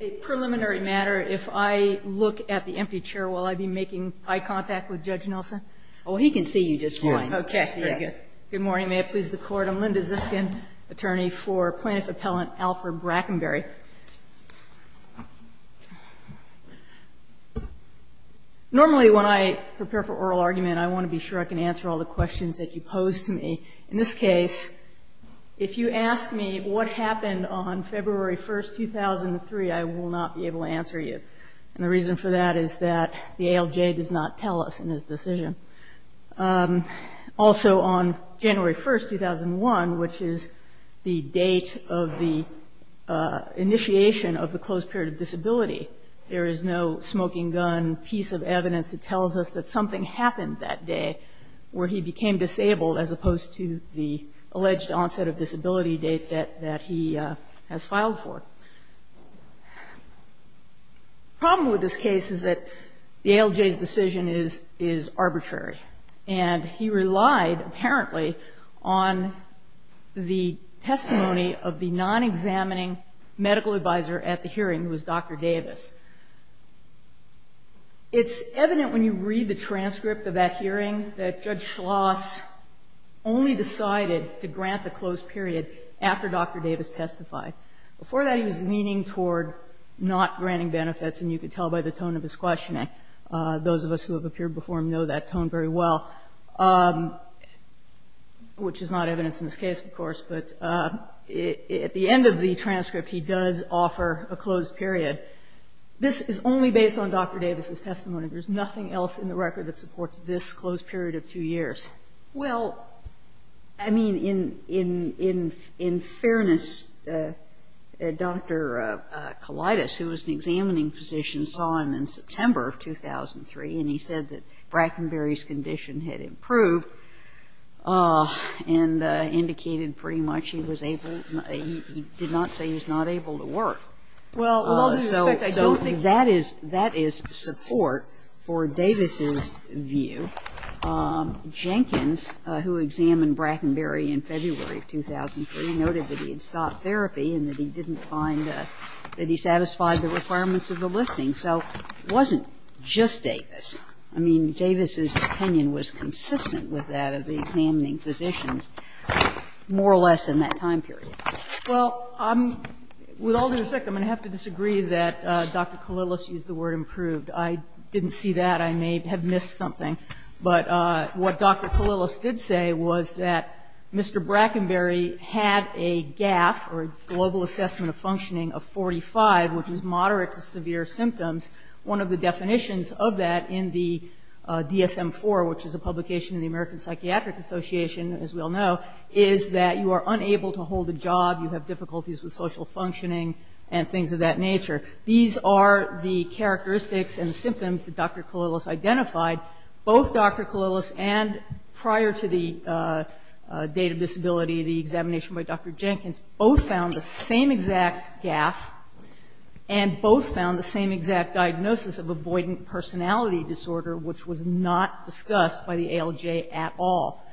A preliminary matter. If I look at the empty chair, will I be making eye contact with Judge Nelson? Oh, he can see you just fine. OK. Very good. Good morning. May it please the Court. I'm Linda Ziskin, attorney for plaintiff appellant Alfred Brackenbury. Normally, when I prepare for oral argument, I want to be sure I can answer all the questions that you pose to me. In this case, if you ask me what happened on February 1, 2003, I will not be able to answer you. And the reason for that is that the ALJ does not tell us in his decision. Also, on January 1, 2001, which is the date of the initiation of the closed period of disability, there is no smoking gun piece of evidence that tells us that something happened that day where he became disabled as opposed to the alleged onset of disability date that he has filed for. Problem with this case is that the ALJ's decision is arbitrary. And he relied, apparently, on the testimony of the non-examining medical advisor at the hearing, who was Dr. Davis. It's evident when you read the transcript of that hearing that Judge Schloss only decided to grant the closed period after Dr. Davis testified. Before that, he was leaning toward not granting benefits. And you could tell by the tone of his questioning. Those of us who have appeared before him know that tone very well, which is not evidence in this case, of course. But at the end of the transcript, he does offer a closed period. This is only based on Dr. Davis's testimony. There's nothing else in the record that supports this closed period of two years. Well, I mean, in fairness, Dr. Kalaitis, who was an examining physician, saw him in September of 2003. And he said that Brackenberry's condition had improved and indicated pretty much he was able. He did not say he was not able to work. So that is support for Davis's view. Jenkins, who examined Brackenberry in February of 2003, noted that he had stopped therapy and that he didn't find that he satisfied the requirements of the listing. So it wasn't just Davis. I mean, Davis's opinion was consistent with that of the examining physicians, more or less, in that time period. Well, with all due respect, I'm going to have to disagree that Dr. Kalaitis used the word improved. I didn't see that. I may have missed something. But what Dr. Kalaitis did say was that Mr. Brackenberry had a GAF, or a global assessment of functioning, of 45, which was moderate to severe symptoms. One of the definitions of that in the DSM-IV, which is a publication in the American Psychiatric Association, as we all know, is that you are unable to hold a job, you have difficulties with social functioning, and things of that nature. These are the characteristics and symptoms that Dr. Kalaitis identified. Both Dr. Kalaitis and, prior to the date of disability, the examination by Dr. Jenkins, both found the same exact GAF, and both found the same exact diagnosis of avoidant personality disorder, which was not discussed by the ALJ at all.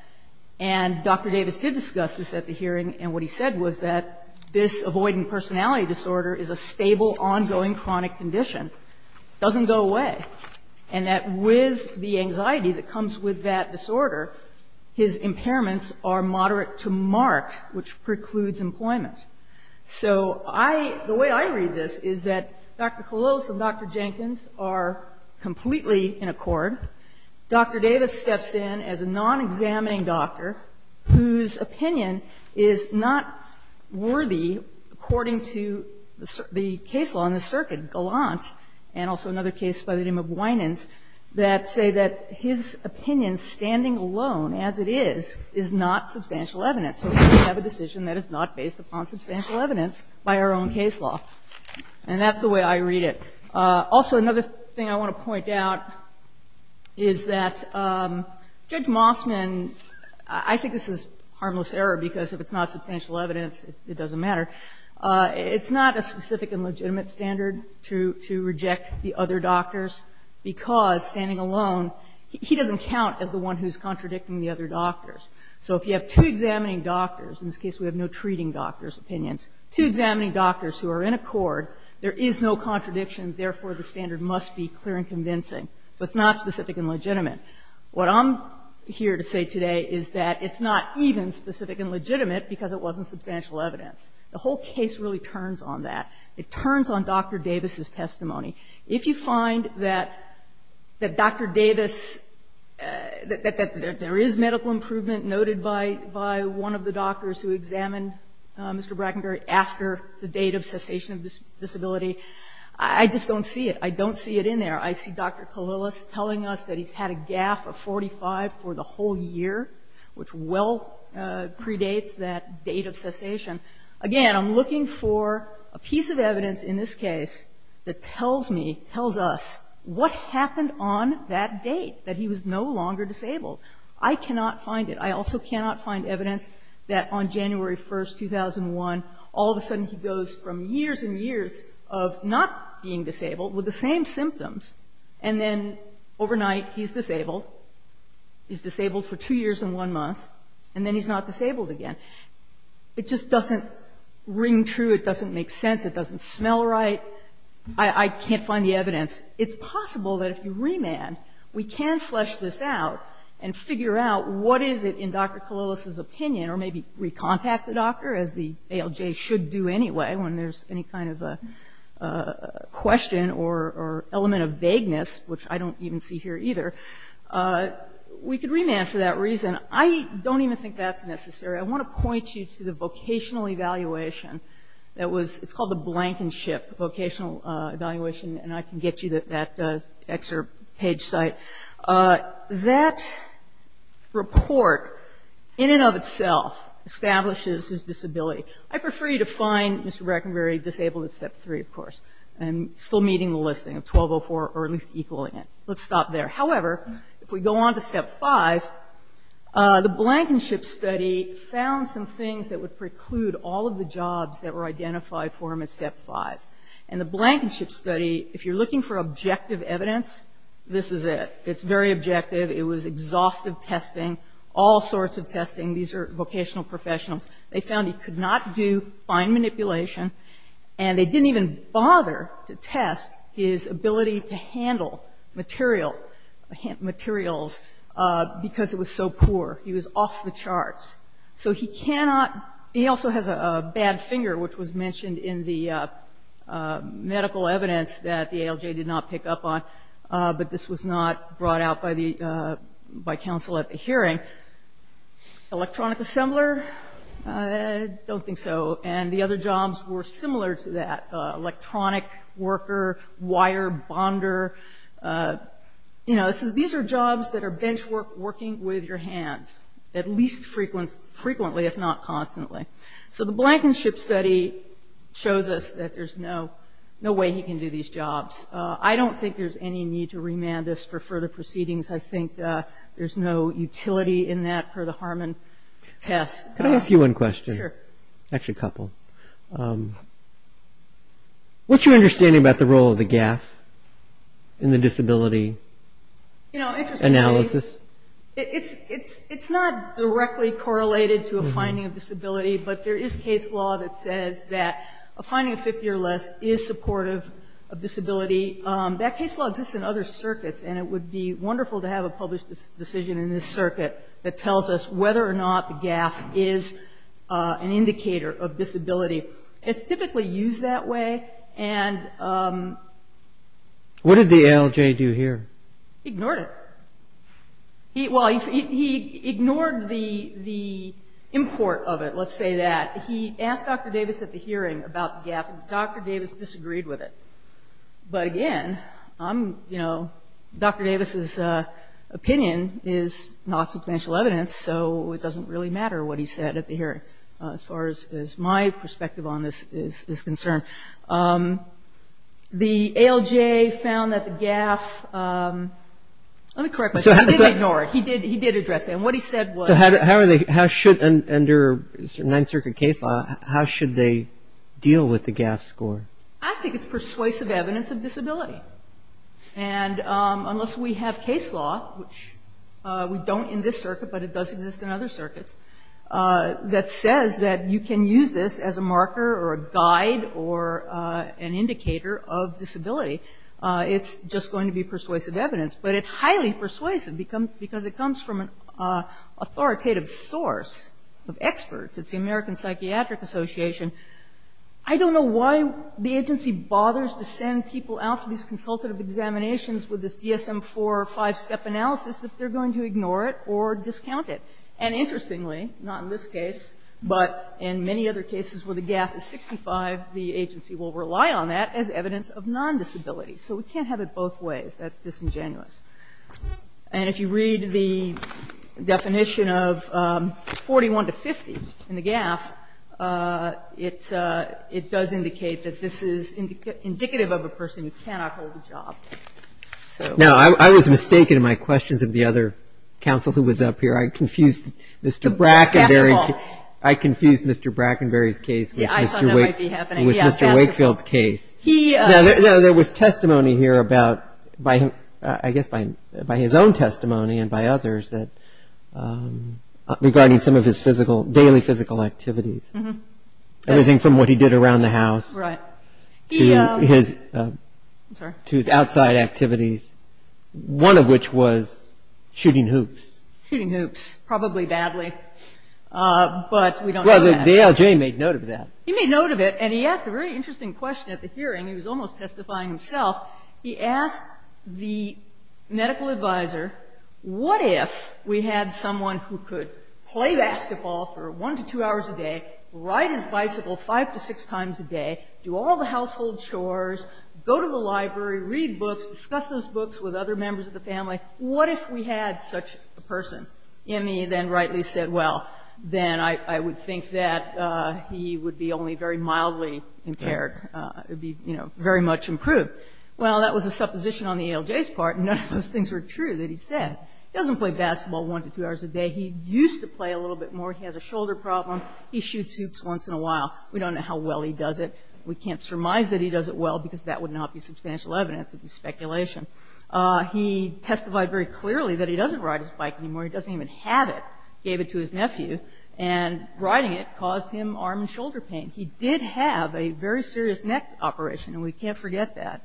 And Dr. Davis did discuss this at the hearing, and what he said was that this avoidant personality disorder is a stable, ongoing, chronic condition. Doesn't go away. And that with the anxiety that comes with that disorder, his impairments are moderate to mark, which precludes employment. So the way I read this is that Dr. Kalaitis and Dr. Jenkins are completely in accord. Dr. Davis steps in as a non-examining doctor whose opinion is not worthy according to the case law in the circuit, Gallant, and also another case by the name of Winans, that say that his opinion, standing alone as it is, is not substantial evidence. So we have a decision that is not based upon substantial evidence by our own case law, and that's the way I read it. Also, another thing I want to point out is that Judge Mossman, I think this is harmless error, because if it's not substantial evidence, it doesn't matter. It's not a specific and legitimate standard to reject the other doctors, because standing alone, he doesn't count as the one who's contradicting the other doctors. So if you have two examining doctors, in this case we have no treating doctors' opinions, two examining doctors who are in accord, there is no contradiction, therefore, the standard must be clear and convincing. So it's not specific and legitimate. What I'm here to say today is that it's not even specific and legitimate because it wasn't substantial evidence. The whole case really turns on that. It turns on Dr. Davis' testimony. If you find that Dr. Davis, that there is medical improvement noted by one of the doctors who examined Mr. Brackenberry after the date of cessation of disability, I just don't see it. I don't see it in there. I see Dr. Kalilis telling us that he's had a gaffe of 45 for the whole year, which well predates that date of cessation. Again, I'm looking for a piece of evidence in this case that tells me, tells us what happened on that date, that he was no longer disabled. I cannot find it. I also cannot find evidence that on January 1st, 2001, all of a sudden he goes from years and years of not being disabled with the same symptoms, and then overnight he's disabled. He's disabled for two years and one month, and then he's not disabled again. It just doesn't ring true. It doesn't make sense. It doesn't smell right. I can't find the evidence. It's possible that if you remand, we can flesh this out and figure out what is it in Dr. Kalilis's opinion, or maybe recontact the doctor, as the ALJ should do anyway when there's any kind of a question or element of vagueness, which I don't even see here either. We could remand for that reason. I don't even think that's necessary. I want to point you to the vocational evaluation that was – it's called the Blankenship Vocational Evaluation, and I can get you that excerpt page site. That report in and of itself establishes his disability. I prefer you to find Mr. Breckenberry disabled at Step 3, of course, and still meeting the listing of 1204 or at least equaling it. Let's stop there. However, if we go on to Step 5, the Blankenship study found some things that would preclude all of the jobs that were identified for him at Step 5. And the Blankenship study, if you're looking for objective evidence, this is it. It's very objective. It was exhaustive testing, all sorts of testing. These are vocational professionals. They found he could not do fine manipulation, and they didn't even bother to test his ability to handle material – materials because it was so poor. He was off the charts. So he cannot – he also has a bad finger, which was mentioned in the medical evidence that the ALJ did not pick up on, but this was not brought out by the – by counsel at the hearing. Electronic assembler? I don't think so. And the other jobs were similar to that – electronic worker, wire bonder. You know, this is – these are jobs that are benchwork working with your hands, at least frequently, if not constantly. So the Blankenship study shows us that there's no way he can do these jobs. I don't think there's any need to remand this for further proceedings. I think there's no utility in that per the Harmon test. MR. Can I ask you one question? MS. GARRETT. Sure. MR. CARRINGTON. Do you have a case law in the disability – GARRETT. You know, interestingly – MR. CARRINGTON. – analysis? MS. GARRETT. It's not directly correlated to a finding of disability, but there is case law that says that a finding of 50 or less is supportive of disability. That case law exists in other circuits, and it would be wonderful to have a published decision in this circuit that tells us whether or not the gaffe is an indicator of disability. It's typically used that way, and – CARRINGTON. What did the ALJ do here? MS. GARRETT. He ignored it. He – well, he ignored the import of it, let's say that. He asked Dr. Davis at the hearing about the gaffe, and Dr. Davis disagreed with it. But again, I'm – you know, Dr. Davis's opinion is not substantial evidence, so it doesn't really matter what he said at the hearing, as far as my perspective on this is concerned. The ALJ found that the gaffe – let me correct myself. He did ignore it. He did address it. And what he said was – CARRINGTON. So how are they – how should – under Ninth Circuit case law, how should they deal with the gaffe score? MS. GARRETT. I think it's persuasive evidence of disability. And unless we have case law, which we don't in this circuit, but it does exist in other for an indicator of disability, it's just going to be persuasive evidence. But it's highly persuasive because it comes from an authoritative source of experts. It's the American Psychiatric Association. I don't know why the agency bothers to send people out for these consultative examinations with this DSM-IV five-step analysis if they're going to ignore it or discount it. And interestingly, not in this case, but in many other cases where the gaffe is 65, the agency will rely on that as evidence of non-disability. So we can't have it both ways. That's disingenuous. And if you read the definition of 41 to 50 in the gaffe, it's – it does indicate that this is indicative of a person who cannot hold a job. So – Counsel, who was up here? I confused Mr. Brackenberry – I confused Mr. Brackenberry's case with Mr. Wakefield's case. He – No, there was testimony here about – I guess by his own testimony and by others that – regarding some of his physical – daily physical activities. Everything from what he did around the house to his – to his outside activities, one of which was shooting hoops. Shooting hoops. Probably badly. But we don't know that. Well, the LJ made note of that. He made note of it, and he asked a very interesting question at the hearing. He was almost testifying himself. He asked the medical advisor, what if we had someone who could play basketball for one to two hours a day, ride his bicycle five to six times a day, do all the household chores, go to the library, read books, discuss those books with other members of the family? What if we had such a person? And he then rightly said, well, then I would think that he would be only very mildly impaired. It would be, you know, very much improved. Well, that was a supposition on the ALJ's part, and none of those things were true that he said. He doesn't play basketball one to two hours a day. He used to play a little bit more. He has a shoulder problem. He shoots hoops once in a while. We don't know how well he does it. We can't surmise that he does it well, because that would not be substantial evidence. It would be speculation. He testified very clearly that he doesn't ride his bike anymore. He doesn't even have it, gave it to his nephew, and riding it caused him arm and shoulder pain. He did have a very serious neck operation, and we can't forget that.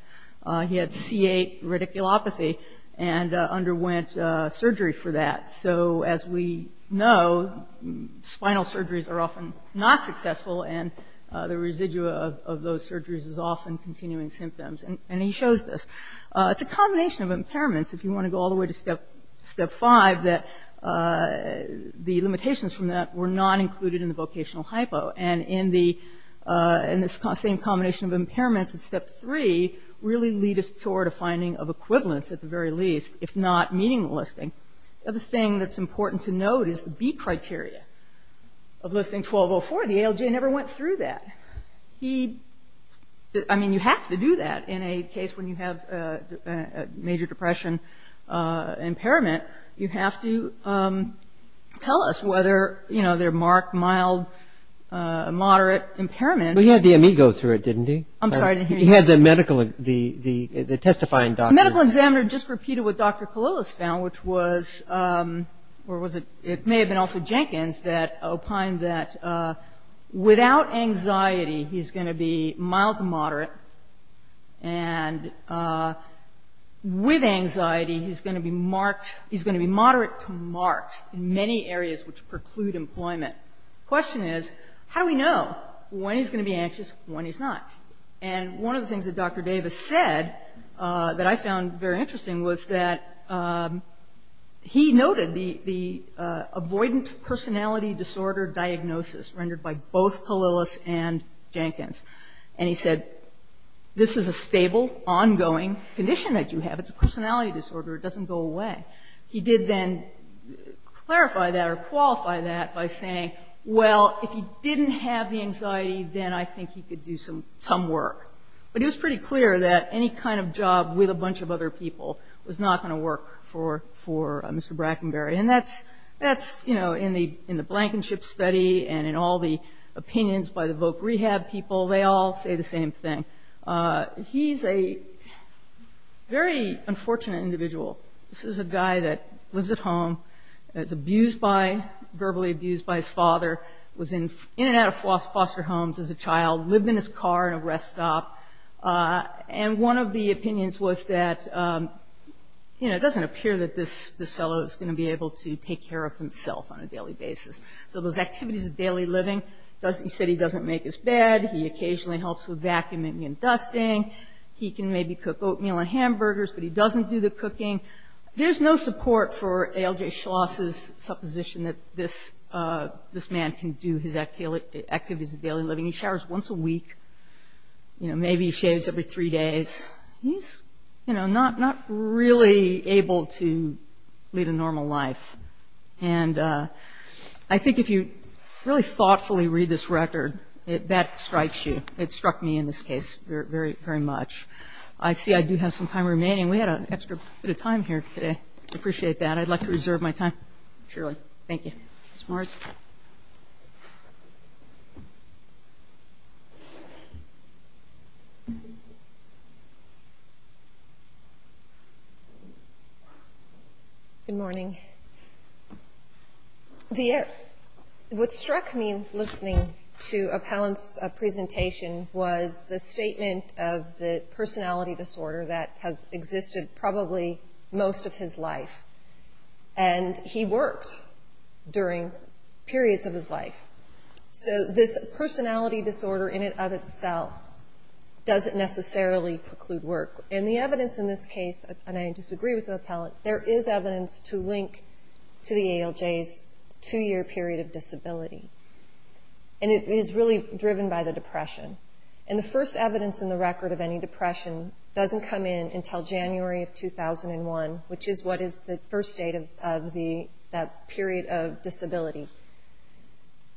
He had C8 radiculopathy and underwent surgery for that. So as we know, spinal surgeries are often not successful, and the residue of those surgeries is often continuing symptoms, and he shows this. It's a combination of impairments, if you want to go all the way to step five, that the limitations from that were not included in the vocational hypo, and in this same combination of impairments in step three really lead us toward a finding of equivalence, at the very least, if not meaninglessly. The other thing that's important to note is the B criteria of Listing 1204. The ALJ never went through that. He – I mean, you have to do that in a case when you have a major depression impairment. You have to tell us whether, you know, there are marked, mild, moderate impairments. But he had the amigo through it, didn't he? I'm sorry to hear you. He had the medical – the testifying doctor. The medical examiner just repeated what Dr. Kalilis found, which was – or was it – it may have been also Jenkins that opined that without anxiety, he's going to be mild to moderate, and with anxiety, he's going to be marked – he's going to be moderate to marked in many areas which preclude employment. Question is, how do we know when he's going to be anxious, when he's not? And one of the things that Dr. Davis said that I found very interesting was that he noted the avoidant personality disorder diagnosis rendered by both Kalilis and Jenkins. And he said, this is a stable, ongoing condition that you have. It's a personality disorder. It doesn't go away. He did then clarify that or qualify that by saying, well, if he didn't have the anxiety, then I think he could do some work. But it was pretty clear that any kind of job with a bunch of other people was not going to work for Mr. Brackenberry. And that's – that's, you know, in the Blankenship study and in all the opinions by the voc rehab people, they all say the same thing. He's a very unfortunate individual. This is a guy that lives at home, is abused by – verbally abused by his father, was in and out of foster homes as a child, lived in his car in a rest stop. And one of the opinions was that, you know, it doesn't appear that this fellow is going to be able to take care of himself on a daily basis. So those activities of daily living, he said he doesn't make his bed, he occasionally helps with vacuuming and dusting, he can maybe cook oatmeal and hamburgers, but he doesn't do the cooking. There's no support for A.L.J. Schloss's supposition that this man can do his activities of daily living. He showers once a week, you know, maybe he shaves every three days. He's, you know, not really able to lead a normal life. And I think if you really thoughtfully read this record, that strikes you. It struck me in this case very much. I see I do have some time remaining. We had an extra bit of time here today. I appreciate that. I'd like to reserve my time. Surely. Thank you. Ms. Martz? Good morning. What struck me listening to Appellant's presentation was the statement of the personality disorder that has existed probably most of his life. And he worked during periods of his life. So this personality disorder in and of itself doesn't necessarily preclude work. And the evidence in this case, and I disagree with Appellant, there is evidence to link to the A.L.J.'s two-year period of disability. And it is really driven by the depression. And the first evidence in the record of any depression doesn't come in until January of 2001, which is what is the first date of that period of disability.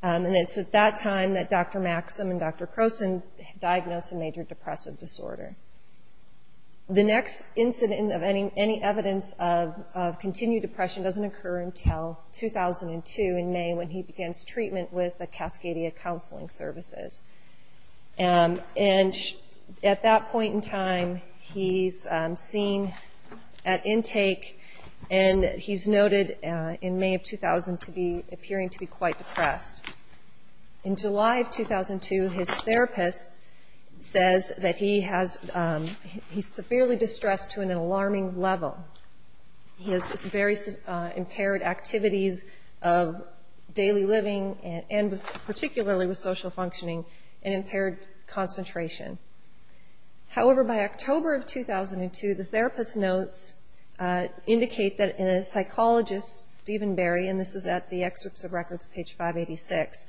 And it's at that time that Dr. Maxim and Dr. Croson diagnosed a major depressive disorder. The next incident of any evidence of continued depression doesn't occur until 2002 in May when he begins treatment with the Cascadia Counseling Services. And at that point in time, he's seen at intake, and he's noted in May of 2000 to be appearing to be quite depressed. In July of 2002, his therapist says that he's severely distressed to an alarming level. He has various impaired activities of daily living, and particularly with social functioning, an impaired concentration. However, by October of 2002, the therapist notes, indicate that a psychologist, Stephen Berry, and this is at the excerpts of records, page 586,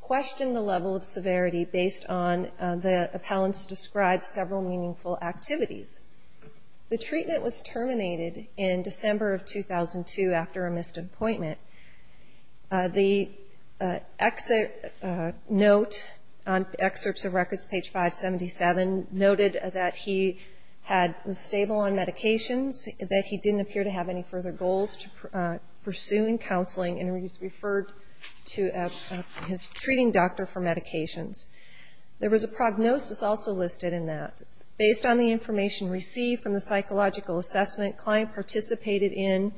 questioned the level of severity based on the Appellant's described several meaningful activities. The treatment was terminated in December of 2002 after a missed appointment. The note on excerpts of records, page 577, noted that he was stable on medications, that he didn't appear to have any further goals to pursue in counseling, and he's referred to his treating doctor for medications. There was a prognosis also listed in that. Based on the information received from the psychological assessment, client participated in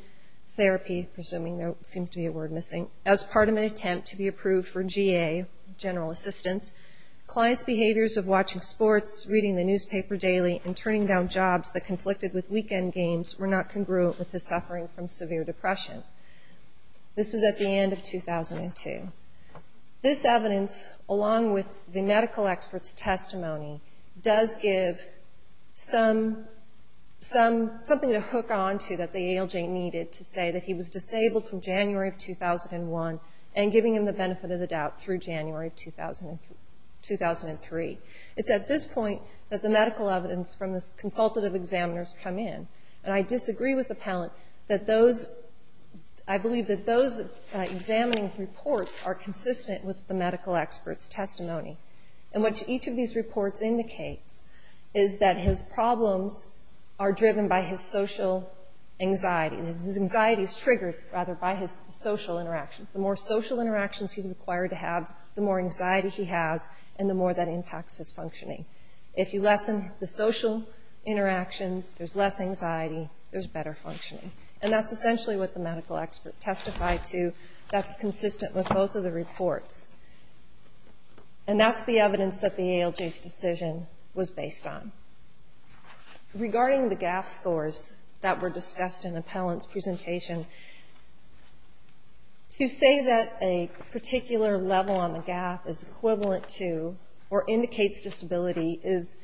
therapy, presuming there seems to be a word missing, as part of an attempt to be approved for GA, general assistance. Client's behaviors of watching sports, reading the newspaper daily, and turning down jobs that conflicted with weekend games were not congruent with his suffering from severe depression. This is at the end of 2002. This evidence, along with the medical expert's testimony, does give something to hook onto that the ALJ needed to say that he was disabled from January of 2001, and giving him the benefit of the doubt through January of 2003. It's at this point that the medical evidence from the consultative examiners come in, and I disagree with Appellant that those, I believe that those examining reports are consistent with the medical expert's testimony, in which each of these reports indicates is that his problems are driven by his social anxiety, and his anxiety is triggered, rather, by his social interaction. The more social interactions he's required to have, the more anxiety he has, and the more that impacts his functioning. If you lessen the social interactions, there's less anxiety, there's better functioning. And that's essentially what the medical expert testified to. That's consistent with both of the reports. And that's the evidence that the ALJ's decision was based on. Regarding the GAF scores that were discussed in Appellant's presentation, to say that a disability is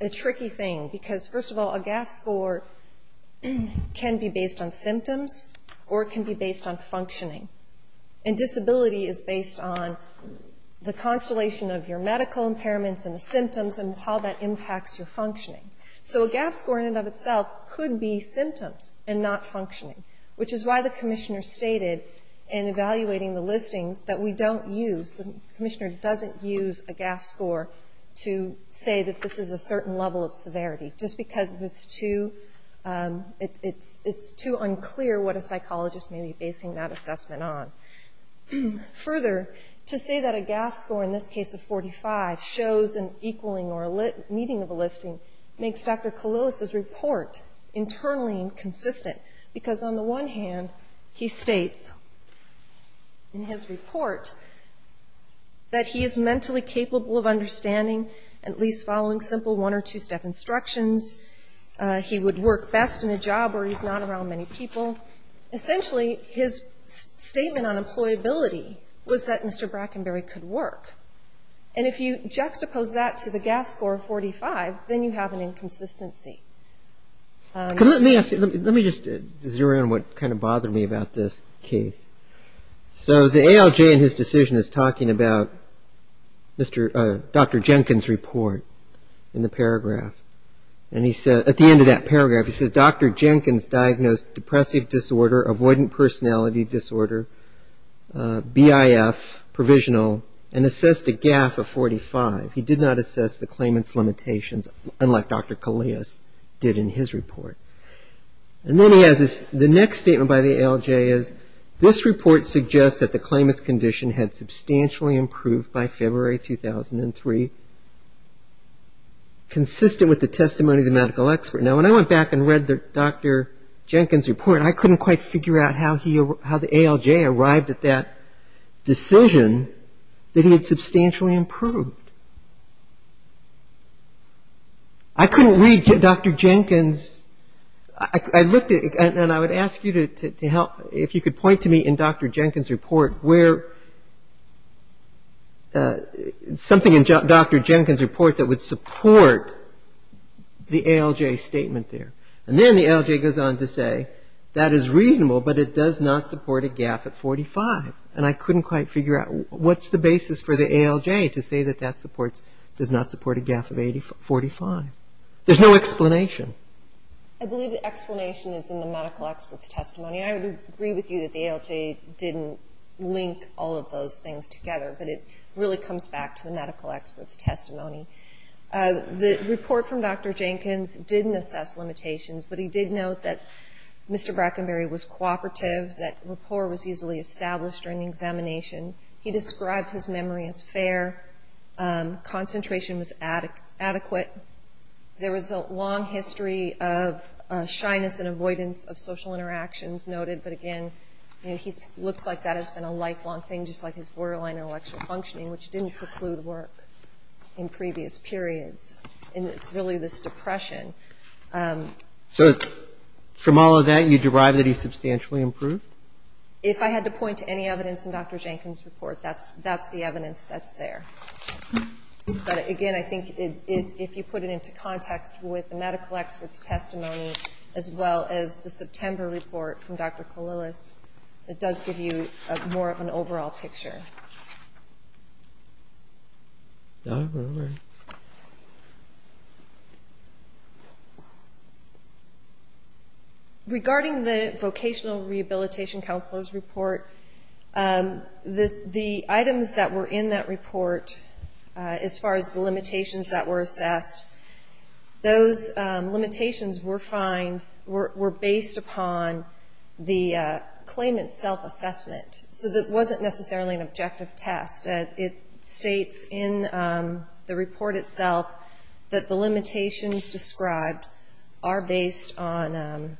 a tricky thing, because, first of all, a GAF score can be based on symptoms, or it can be based on functioning. And disability is based on the constellation of your medical impairments and the symptoms and how that impacts your functioning. So a GAF score, in and of itself, could be symptoms and not functioning, which is why the commissioner stated, in evaluating the listings, that we don't use, the commissioner doesn't use a GAF score to say that this is a certain level of severity, just because it's too unclear what a psychologist may be basing that assessment on. Further, to say that a GAF score, in this case of 45, shows an equaling or a meeting of a listing, makes Dr. Kalilis' report internally inconsistent. Because, on the one hand, he states in his report that he is mentally capable of understanding, at least following simple one or two-step instructions. He would work best in a job where he's not around many people. Essentially his statement on employability was that Mr. Brackenberry could work. And if you juxtapose that to the GAF score of 45, then you have an inconsistency. Let me just zero in on what kind of bothered me about this case. So the ALJ, in his decision, is talking about Dr. Jenkins' report in the paragraph. And at the end of that paragraph, he says, Dr. Jenkins diagnosed depressive disorder, avoidant personality disorder, BIF, provisional, and assessed a GAF of 45. He did not assess the claimant's limitations, unlike Dr. Kalilis did in his report. And then he has this, the next statement by the ALJ is, this report suggests that the claimant's condition had substantially improved by February 2003, consistent with the testimony of the medical expert. Now, when I went back and read Dr. Jenkins' report, I couldn't quite figure out how the ALJ arrived at that decision that he had substantially improved. I couldn't read Dr. Jenkins. I looked at, and I would ask you to help, if you could point to me in Dr. Jenkins' report where something in Dr. Jenkins' report that would support the ALJ statement there. And then the ALJ goes on to say, that is reasonable, but it does not support a GAF of 45. And I couldn't quite figure out, what's the basis for the ALJ to say that that supports, does not support a GAF of 45? There's no explanation. I believe the explanation is in the medical expert's testimony. I would agree with you that the ALJ didn't link all of those things together, but it really comes back to the medical expert's testimony. The report from Dr. Jenkins didn't assess limitations, but he did note that Mr. Brackenberry was cooperative, that rapport was easily established during the examination. He described his memory as fair. Concentration was adequate. There was a long history of shyness and avoidance of social interactions noted, but again, he looks like that has been a lifelong thing, just like his borderline intellectual functioning, which didn't preclude work in previous periods. And it's really this depression. So from all of that, you derive that he's substantially improved? If I had to point to any evidence in Dr. Jenkins' report, that's the evidence that's there. But again, I think if you put it into context with the medical expert's testimony, as well as the September report from Dr. Koulilas, it does give you more of an overall picture. Regarding the vocational rehabilitation counselor's report, the items that were in that report, as far as the limitations that were assessed, those limitations were based upon the claimant's self-assessment. So it wasn't necessarily an objective test. It states in the report itself that the limitations described are based on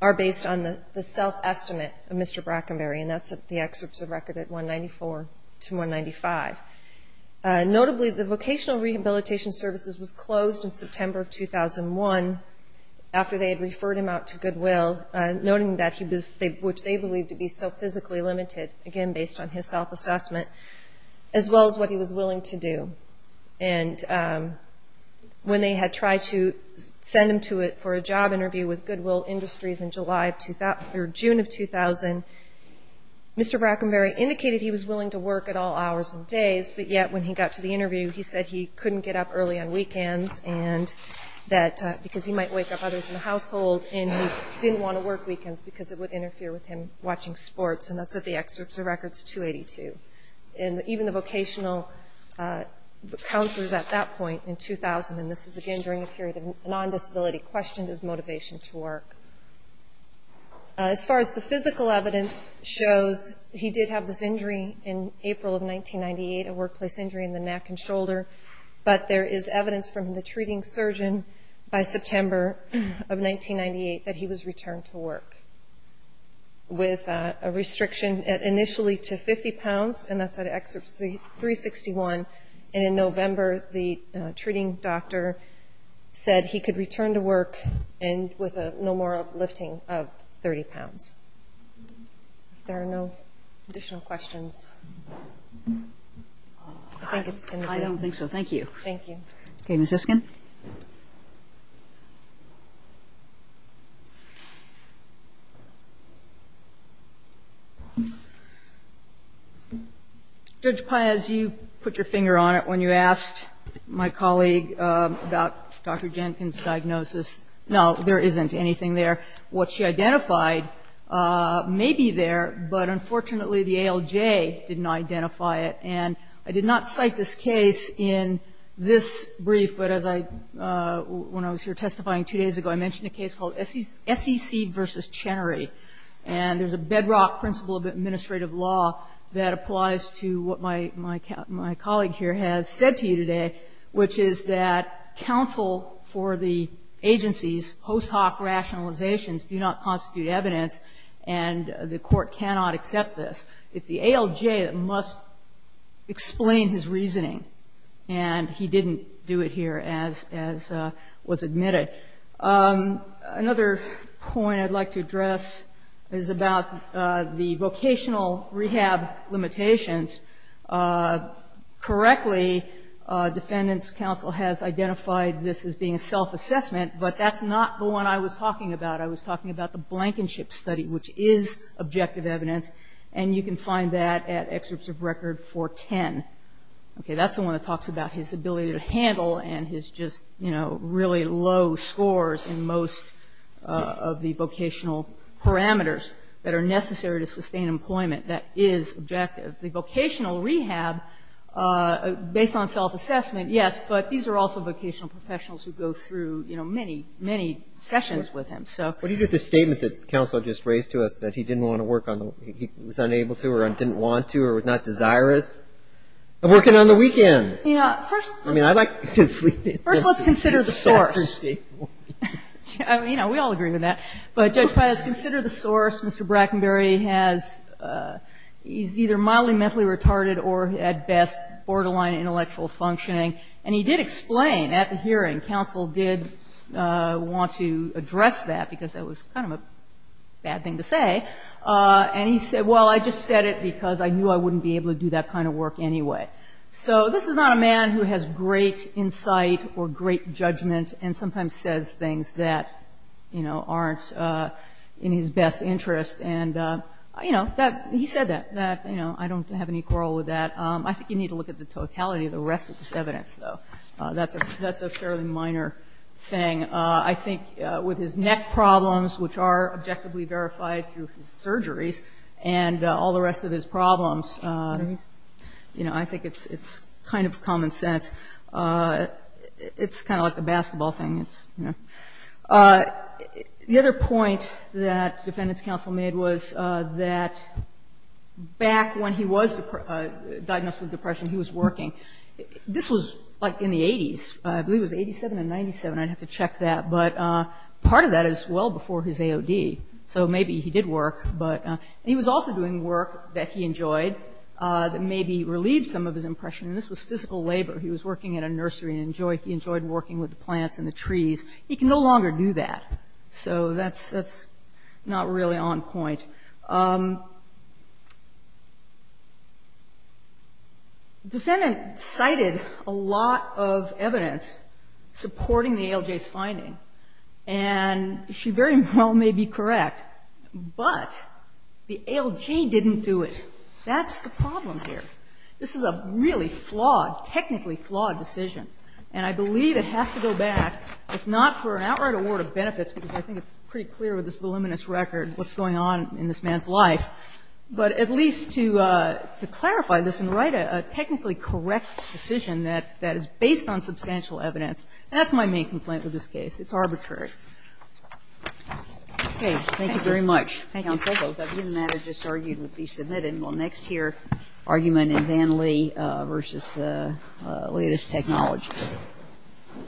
the self-estimate of Mr. Brackenberry, and that's the excerpts of record at 194 to 195. Notably, the vocational rehabilitation services was closed in September of 2001, after they had referred him out to Goodwill, noting that he was, which they believed to be, so physically limited, again, based on his self-assessment, as well as what he was willing to do. And when they had tried to send him to it for a job interview with Goodwill Industries in June of 2000, Mr. Brackenberry indicated he was willing to work at all hours and days, but yet when he got to the interview, he said he couldn't get up early on weekends, and that because he might wake up others in the household, and he didn't want to work weekends because it would interfere with him watching sports, and that's at the excerpts of records 282. And even the vocational counselors at that point in 2000, and this is, again, during a period of non-disability, questioned his motivation to work. As far as the physical evidence shows, he did have this injury in April of 1998, a workplace injury in the neck and shoulder, but there is evidence from the treating surgeon by September of 1998 that he was returned to work, with a restriction initially to 50 pounds, and that's at excerpts 361, and in November, the treating doctor said he could return to work and with no more lifting of 30 pounds. If there are no additional questions, I think it's going to be all. I don't think so. Thank you. Thank you. Okay, Ms. Isken? Judge Paez, you put your finger on it when you asked my colleague about Dr. Jenkins' diagnosis. No, there isn't anything there. What she identified may be there, but unfortunately, the ALJ didn't identify it, and I did not cite this case in this brief, but as I, when I was here testifying two days ago, I mentioned a case called SEC v. Chenery, and there's a bedrock principle of administrative law that applies to what my colleague here has said to you today, which is that counsel for the agency's post hoc rationalizations do not constitute evidence, and the court cannot accept this. It's the ALJ that must explain his reasoning, and he didn't do it here, as was admitted. Another point I'd like to address is about the vocational rehab limitations. Correctly, defendants' counsel has identified this as being a self-assessment, but that's not the one I was talking about. I was talking about the Blankenship Study, which is objective evidence, and you can find that at Excerpts of Record 410. Okay, that's the one that talks about his ability to handle and his just, you know, really low scores in most of the vocational parameters that are necessary to sustain employment. That is objective. The vocational rehab, based on self-assessment, yes, but these are also vocational professionals who go through, you know, many, many sessions with him, so. But he did the statement that counsel just raised to us that he didn't want to work on the, he was unable to or didn't want to or was not desirous of working on the weekends. First, let's consider the source. You know, we all agree with that. But Judge Pius, consider the source. Mr. Brackenberry has, he's either mildly mentally retarded or, at best, borderline intellectual functioning. And he did explain at the hearing, counsel did want to address that because that was kind of a bad thing to say. And he said, well, I just said it because I knew I wouldn't be able to do that kind of work anyway. So this is not a man who has great insight or great judgment and sometimes says things that, you know, aren't in his best interest. And, you know, he said that. I don't have any quarrel with that. I think you need to look at the totality of the rest of this evidence, though. That's a fairly minor thing. I think with his neck problems, which are objectively verified through his surgeries, and all the rest of his problems, you know, I think it's kind of common sense. It's kind of like a basketball thing. The other point that defendants' counsel made was that back when he was diagnosed with depression, he was working. This was, like, in the 80s. I believe it was 87 and 97. I'd have to check that. But part of that is well before his AOD. So maybe he did work. And he was also doing work that he enjoyed that maybe relieved some of his impression. And this was physical labor. He was working at a nursery and he enjoyed working with the plants and the trees. He can no longer do that. So that's not really on point. The defendant cited a lot of evidence supporting the ALJ's finding. And she very well may be correct, but the ALJ didn't do it. That's the problem here. This is a really flawed, technically flawed decision. And I believe it has to go back, if not for an outright award of benefits, because I think it's pretty clear with this voluminous record what's going on in this man's life, but at least to clarify this and write a technically correct decision that is based on substantial evidence. And that's my main complaint with this case. It's arbitrary. Okay. Thank you very much. Counsel, both of you and that have just argued and will be submitted. We'll next hear argument in Van Lee v. Latest Technologies.